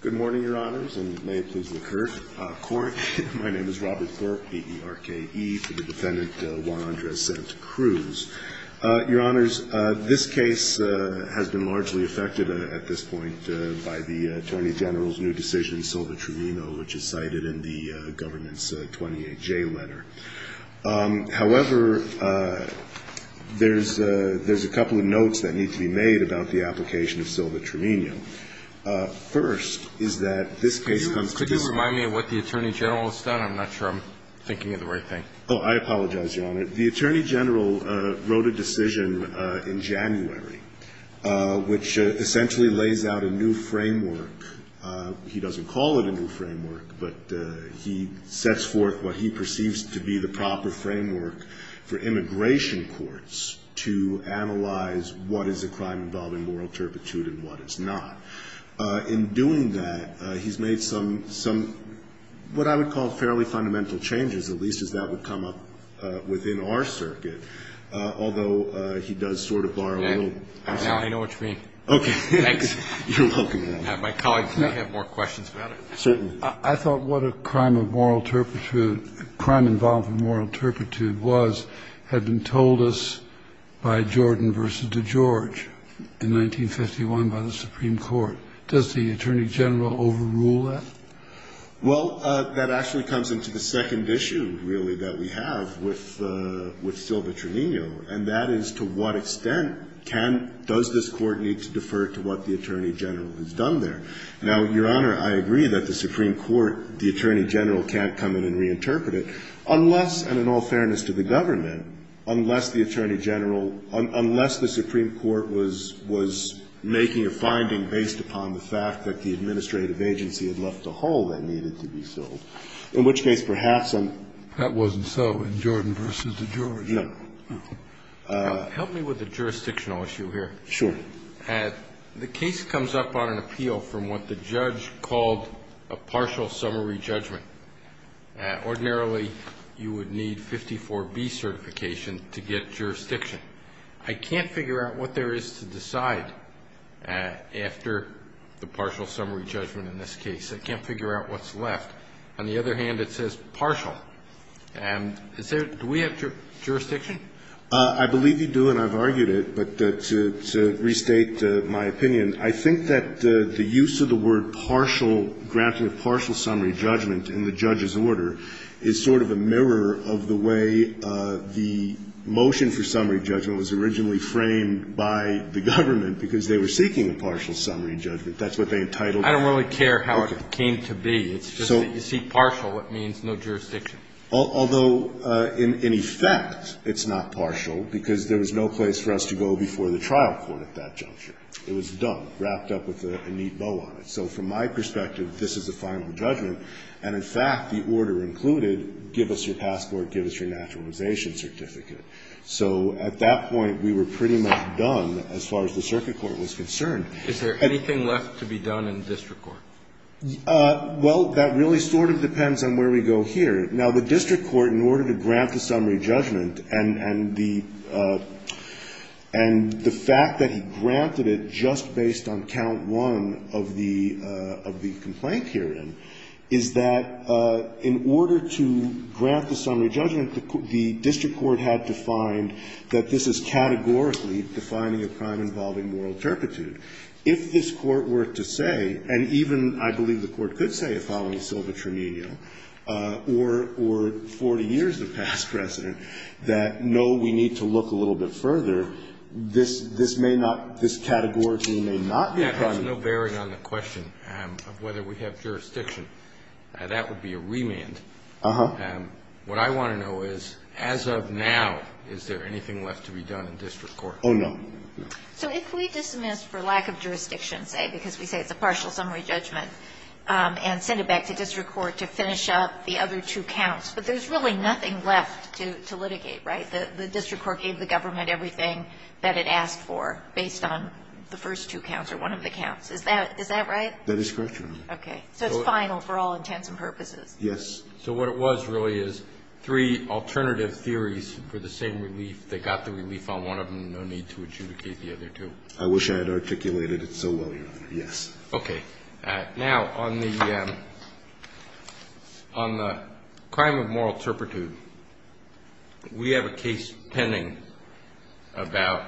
Good morning, your honors, and may it please the court. My name is Robert Corp, B-E-R-K-E, for the defendant Juan Andres Santacruz. Your honors, this case has been largely affected at this point by the Attorney General's new decision, Silva-Tremino, which is cited in the government's 28-J letter. However, there's a couple of notes that need to be made about the application of Silva-Tremino. First, is that this case comes to this- Could you remind me of what the Attorney General has done? I'm not sure I'm thinking of the right thing. Oh, I apologize, your honor. The Attorney General wrote a decision in January, which essentially lays out a new framework. He doesn't call it a new framework, but he sets forth what he perceives to be the proper framework for immigration courts to analyze what is a crime involving moral turpitude and what is not. In doing that, he's made some, what I would call fairly fundamental changes, at least as that would come up within our circuit. Although he does sort of borrow a little- I know what you mean. Okay. Thanks. You're welcome, your honor. My colleagues may have more questions about it. Certainly. I thought what a crime of moral turpitude, crime involving moral turpitude was, had been told us by Jordan v. DeGeorge in 1951 by the Supreme Court. Does the Attorney General overrule that? Well, that actually comes into the second issue, really, that we have with Silva-Tremino, and that is to what extent can, does this Court need to defer to what the Attorney General has done there? Now, your honor, I agree that the Supreme Court, the Attorney General can't come in and reinterpret it unless, and in all fairness to the government, unless the Attorney General, unless the Supreme Court was making a finding based upon the fact that the administrative agency had left a hole that needed to be filled, in which case perhaps I'm- That wasn't so in Jordan v. DeGeorge. Yeah. Help me with the jurisdictional issue here. Sure. The case comes up on an appeal from what the judge called a partial summary judgment. Ordinarily, you would need 54B certification to get jurisdiction. I can't figure out what there is to decide after the partial summary judgment in this case. I can't figure out what's left. On the other hand, it says partial. And is there, do we have jurisdiction? I believe you do, and I've argued it, but to restate my opinion, I think that the use of the word partial, granting a partial summary judgment in the judge's order is sort of a mirror of the way the motion for summary judgment was originally framed by the government because they were seeking a partial summary judgment. That's what they entitled it. I don't really care how it came to be. It's just that you seek partial, it means no jurisdiction. Although, in effect, it's not partial because there was no place for us to go before the trial court at that juncture. It was done, wrapped up with a neat bow on it. So from my perspective, this is a final judgment. And, in fact, the order included give us your passport, give us your naturalization certificate. So at that point, we were pretty much done as far as the circuit court was concerned. Is there anything left to be done in district court? Well, that really sort of depends on where we go here. Now, the district court, in order to grant the summary judgment, and the fact that he granted it just based on count one of the complaint herein, is that in order to grant the summary judgment, the district court had to find that this is categorically defining a crime involving moral turpitude. If this Court were to say, and even I believe the Court could say, if I'll use Silva-Trimenio or 40 years of past precedent, that no, we need to look a little bit further, this may not, this categorically may not be a crime. Yes. There's no bearing on the question of whether we have jurisdiction. That would be a remand. Uh-huh. What I want to know is, as of now, is there anything left to be done in district Oh, no. So if we dismiss for lack of jurisdiction, say, because we say it's a partial summary judgment, and send it back to district court to finish up the other two counts, but there's really nothing left to litigate, right? The district court gave the government everything that it asked for based on the first two counts or one of the counts. Is that right? That is correct, Your Honor. Okay. So it's final for all intents and purposes. Yes. So what it was really is three alternative theories for the same relief. If they got the relief on one of them, no need to adjudicate the other two. I wish I had articulated it so well, Your Honor. Yes. Okay. Now, on the crime of moral turpitude, we have a case pending about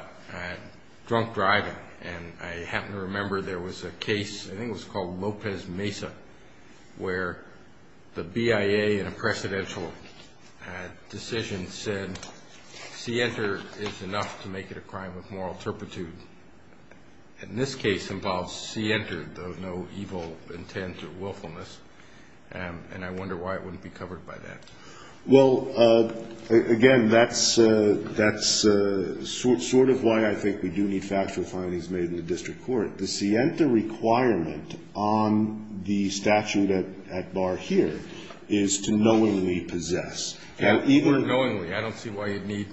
drunk driving, and I happen to remember there was a case, I think it was called Lopez Mesa, where the BIA in a precedential decision said Sienta is enough to make it a crime with moral turpitude. And this case involves Sienta, though no evil intent or willfulness, and I wonder why it wouldn't be covered by that. Well, again, that's sort of why I think we do need factual findings made in the district court. The Sienta requirement on the statute at bar here is to knowingly possess. Even knowingly, I don't see why you'd need,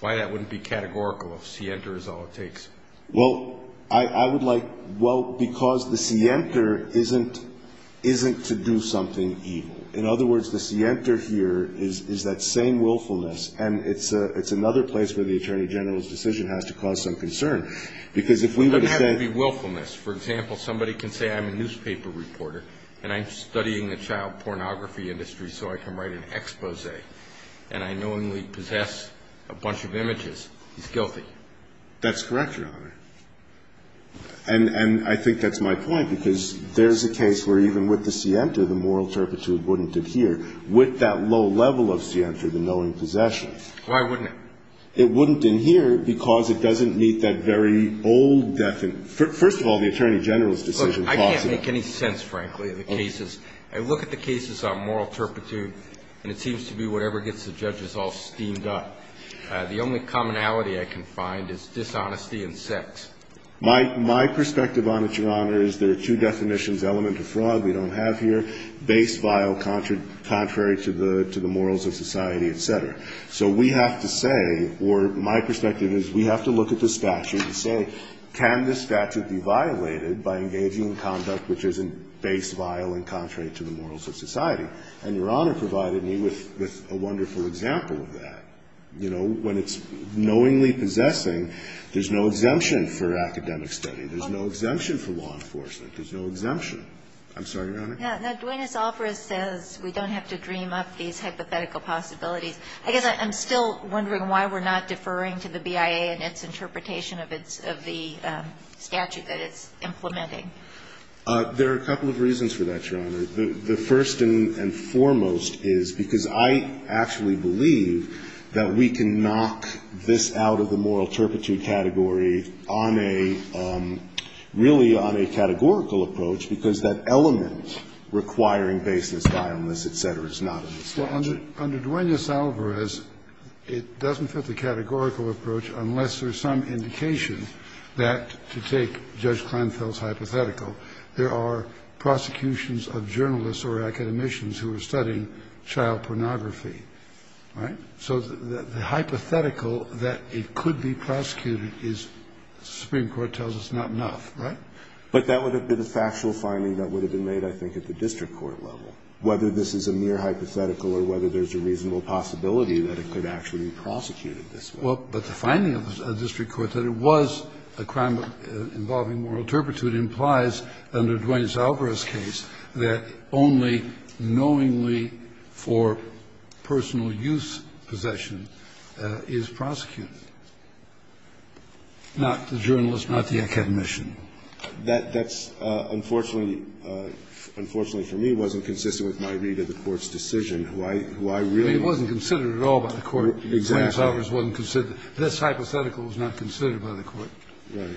why that wouldn't be categorical if Sienta is all it takes. Well, I would like, well, because the Sienta isn't to do something evil. In other words, the Sienta here is that same willfulness, and it's another place where the Attorney General's decision has to cause some concern, because if we were to have a willfulness, for example, somebody can say I'm a newspaper reporter and I'm studying the child pornography industry so I can write an expose, and I knowingly possess a bunch of images, he's guilty. That's correct, Your Honor. And I think that's my point, because there's a case where even with the Sienta, the moral turpitude wouldn't adhere. With that low level of Sienta, the knowing possession. Why wouldn't it? It wouldn't adhere because it doesn't meet that very old definition. First of all, the Attorney General's decision causes that. Look, I can't make any sense, frankly, of the cases. I look at the cases on moral turpitude, and it seems to be whatever gets the judges all steamed up. The only commonality I can find is dishonesty and sex. My perspective on it, Your Honor, is there are two definitions, element of fraud we don't have here, base vile contrary to the morals of society, et cetera. So we have to say, or my perspective is we have to look at the statute and say, can this statute be violated by engaging in conduct which isn't base vile and contrary to the morals of society? And Your Honor provided me with a wonderful example of that. You know, when it's knowingly possessing, there's no exemption for academic study, there's no exemption for law enforcement, there's no exemption. I'm sorry, Your Honor. Now, Duenas-Alfarez says we don't have to dream up these hypothetical possibilities. I guess I'm still wondering why we're not deferring to the BIA and its interpretation of its of the statute that it's implementing. There are a couple of reasons for that, Your Honor. The first and foremost is because I actually believe that we can knock this out of the moral turpitude category on a, really on a categorical approach, because that element requiring baseless violence, et cetera, is not in the statute. Under Duenas-Alfarez, it doesn't fit the categorical approach unless there's some indication that, to take Judge Kleinfeld's hypothetical, there are prosecutions of journalists or academicians who are studying child pornography, right? So the hypothetical that it could be prosecuted is, the Supreme Court tells us, not enough, right? But that would have been a factual finding that would have been made, I think, at the district court level, whether this is a mere hypothetical or whether there's a reasonable possibility that it could actually be prosecuted this way. Well, but the finding of the district court that it was a crime involving moral turpitude implies, under Duenas-Alfarez's case, that only knowingly for personal use possession is prosecuted, not the journalist, not the academician. That's, unfortunately, unfortunately for me, wasn't consistent with my read of the Court's decision, who I really was. It wasn't considered at all by the Court. Exactly. Duenas-Alfarez wasn't considered. This hypothetical was not considered by the Court. Right.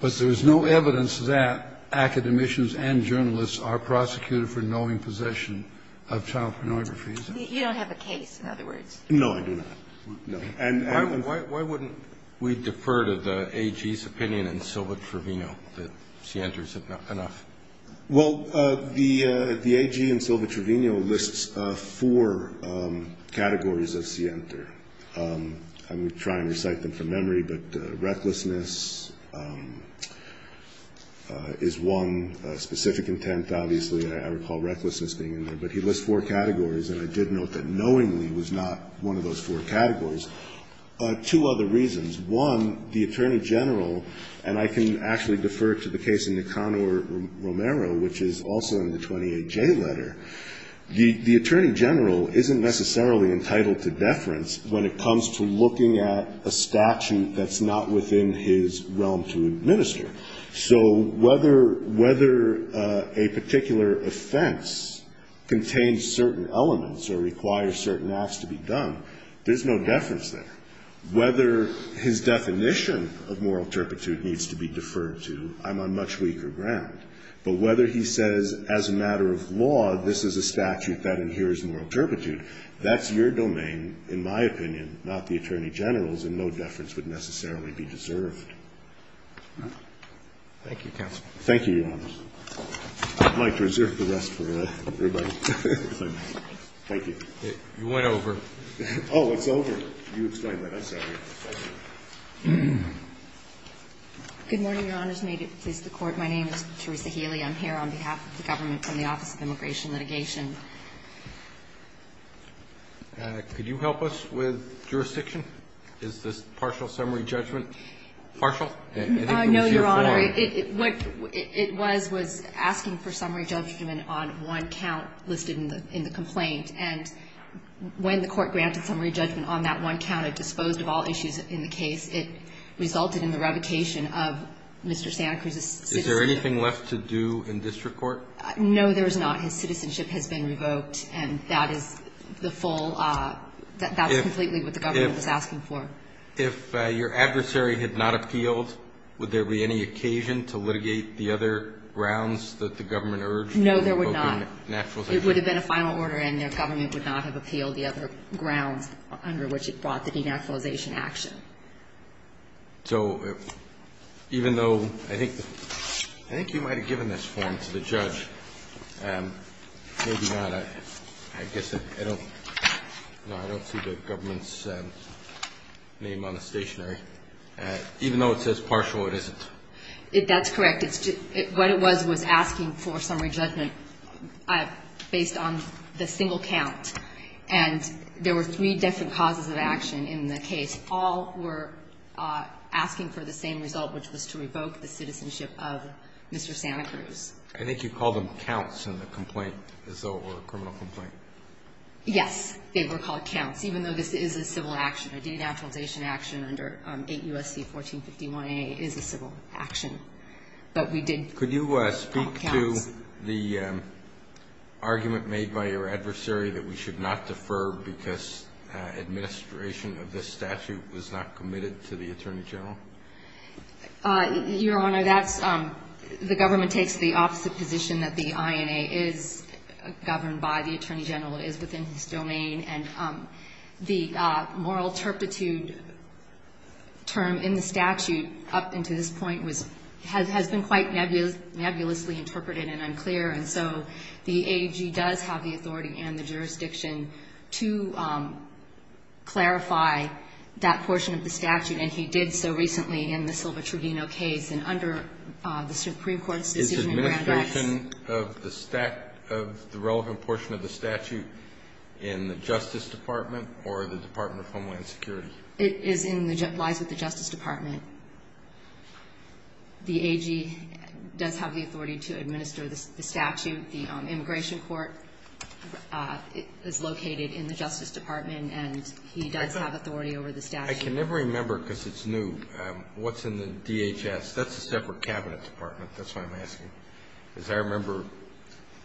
But there is no evidence that academicians and journalists are prosecuted for knowing possession of child pornography. You don't have a case, in other words. No, I do not. No. Why wouldn't we defer to the AG's opinion in Silva-Trovino that Sienter's enough? Well, the AG in Silva-Trovino lists four categories of Sienter. I'm trying to recite them from memory, but recklessness is one specific intent. Obviously, I recall recklessness being in there. But he lists four categories, and I did note that knowingly was not one of those four categories. Two other reasons. One, the Attorney General, and I can actually defer to the case of Nicanor Romero, which is also in the 28J letter. The Attorney General isn't necessarily entitled to deference when it comes to looking at a statute that's not within his realm to administer. So whether a particular offense contains certain elements or requires certain layoffs to be done, there's no deference there. Whether his definition of moral turpitude needs to be deferred to, I'm on much weaker ground. But whether he says, as a matter of law, this is a statute that inheres moral turpitude, that's your domain, in my opinion, not the Attorney General's, and no deference would necessarily be deserved. Thank you, counsel. Thank you, Your Honor. I'd like to reserve the rest for everybody. Thank you. You went over. Oh, it's over. You explained that. I'm sorry. Thank you. Good morning, Your Honors. May it please the Court. My name is Teresa Healy. I'm here on behalf of the government from the Office of Immigration Litigation. Could you help us with jurisdiction? Is this partial summary judgment? Partial? No, Your Honor. What it was, was asking for summary judgment on one count listed in the complaint. And when the Court granted summary judgment on that one count, it disposed of all issues in the case. It resulted in the revocation of Mr. Santa Cruz's citizenship. Is there anything left to do in district court? No, there is not. His citizenship has been revoked, and that is the full – that's completely what the government was asking for. If your adversary had not appealed, would there be any occasion to litigate the other grounds that the government urged for revoking naturalization? No, there would not. It would have been a final order, and the government would not have appealed the other grounds under which it brought the denaturalization action. So even though – I think you might have given this form to the judge. Maybe not. I guess I don't see the government's name on the stationery. Even though it says partial, it isn't? That's correct. What it was, was asking for summary judgment based on the single count. And there were three different causes of action in the case. All were asking for the same result, which was to revoke the citizenship of Mr. Santa Cruz. I think you called them counts in the complaint, as though it were a criminal complaint. Yes. They were called counts, even though this is a civil action. A denaturalization action under 8 U.S.C. 1451a is a civil action. But we did call counts. Could you speak to the argument made by your adversary that we should not defer because administration of this statute was not committed to the attorney general? Your Honor, that's – the government takes the opposite position, that the INA is governed by the attorney general. It is within his domain. And the moral turpitude term in the statute up until this point was – has been quite nebulously interpreted and unclear. And so the AG does have the authority and the jurisdiction to clarify that portion of the statute, and he did so recently in the Silva-Truvino case. And under the Supreme Court's decision in Grand X – Justice Department or the Department of Homeland Security? It is in the – lies with the Justice Department. The AG does have the authority to administer the statute. The immigration court is located in the Justice Department, and he does have authority over the statute. I can never remember, because it's new, what's in the DHS. That's a separate cabinet department. That's why I'm asking. Because I remember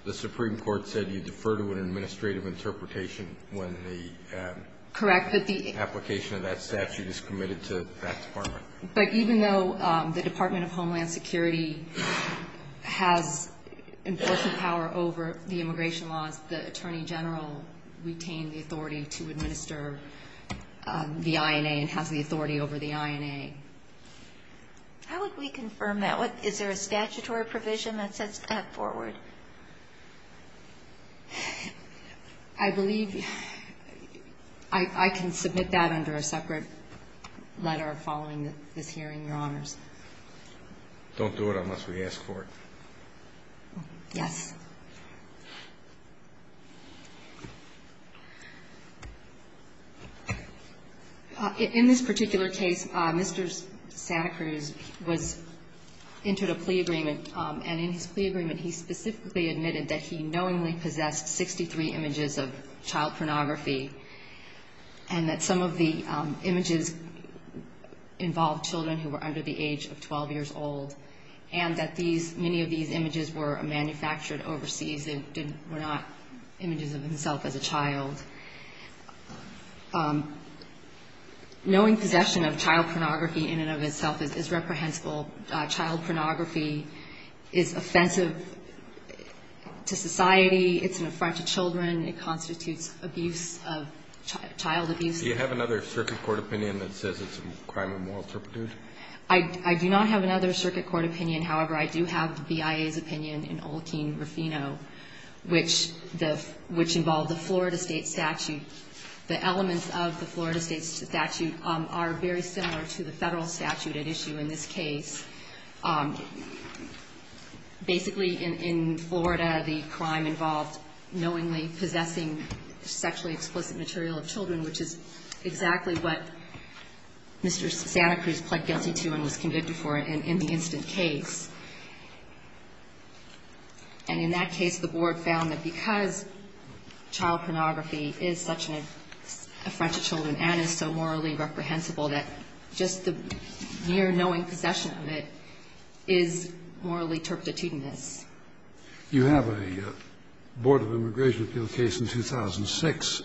the Supreme Court said you defer to an administrative interpretation when the application of that statute is committed to that department. But even though the Department of Homeland Security has enforcement power over the immigration laws, the attorney general retained the authority to administer the INA and has the authority over the INA. How would we confirm that? Is there a statutory provision that sets that forward? I believe I can submit that under a separate letter following this hearing, Your Honors. Don't do it unless we ask for it. Yes. In this particular case, Mr. Santa Cruz was – entered a plea agreement, and in his knowingly possessed 63 images of child pornography, and that some of the images involved children who were under the age of 12 years old, and that these – many of these images were manufactured overseas and were not images of himself as a child. Knowing possession of child pornography in and of itself is reprehensible. Child pornography is offensive to society. It's an affront to children. It constitutes abuse of – child abuse. Do you have another circuit court opinion that says it's a crime of moral turpitude? I do not have another circuit court opinion. However, I do have the BIA's opinion in Olkein-Rufino, which the – which involved the Florida State statute. The elements of the Florida State statute are very similar to the Federal statute at issue in this case. Basically, in Florida, the crime involved knowingly possessing sexually explicit material of children, which is exactly what Mr. Santa Cruz pled guilty to and was convicted for in the instant case. And in that case, the Board found that because child pornography is such an affront to children and is so morally reprehensible, that just the mere knowing possession of it is morally turpitudinous. You have a Board of Immigration Appeals case in 2006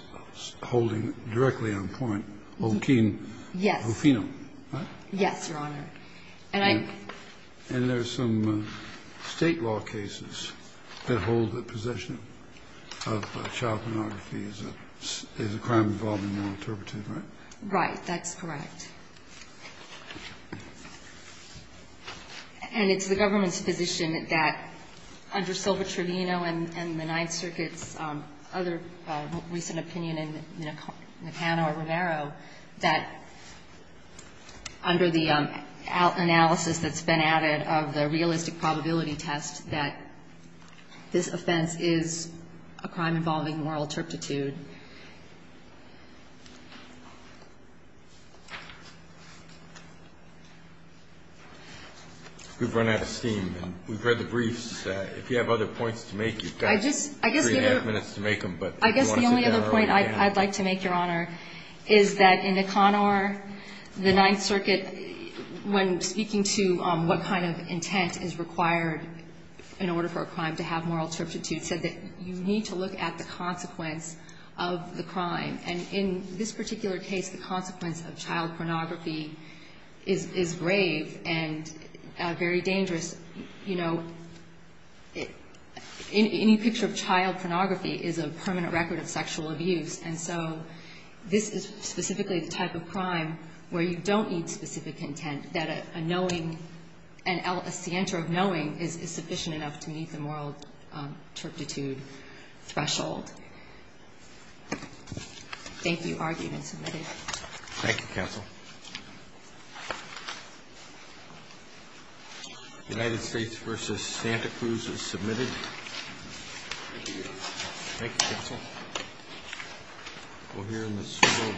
holding directly on point Olkein-Rufino. Yes. Right? Yes, Your Honor. And I'm – And there are some State law cases that hold that possession of child pornography is a crime involving moral turpitude, right? Right. That's correct. And it's the government's position that under Silva-Trevino and the Ninth Circuit's other recent opinion in Hanna or Romero, that under the analysis that's been added of the realistic probability test, that this offense is a crime involving moral turpitude. We've run out of steam. And we've read the briefs. If you have other points to make, you've got three and a half minutes to make them. I guess the only other point I'd like to make, Your Honor, is that in Econor, the Ninth required, in order for a crime to have moral turpitude, said that you need to look at the consequence of the crime. And in this particular case, the consequence of child pornography is grave and very dangerous. You know, any picture of child pornography is a permanent record of sexual abuse. And so this is specifically the type of crime where you don't need specific intent, that a knowing, a scienter of knowing is sufficient enough to meet the moral turpitude threshold. Thank you. Argument submitted. Thank you, Counsel. United States v. Santa Cruz is submitted. Thank you. Thank you, Counsel.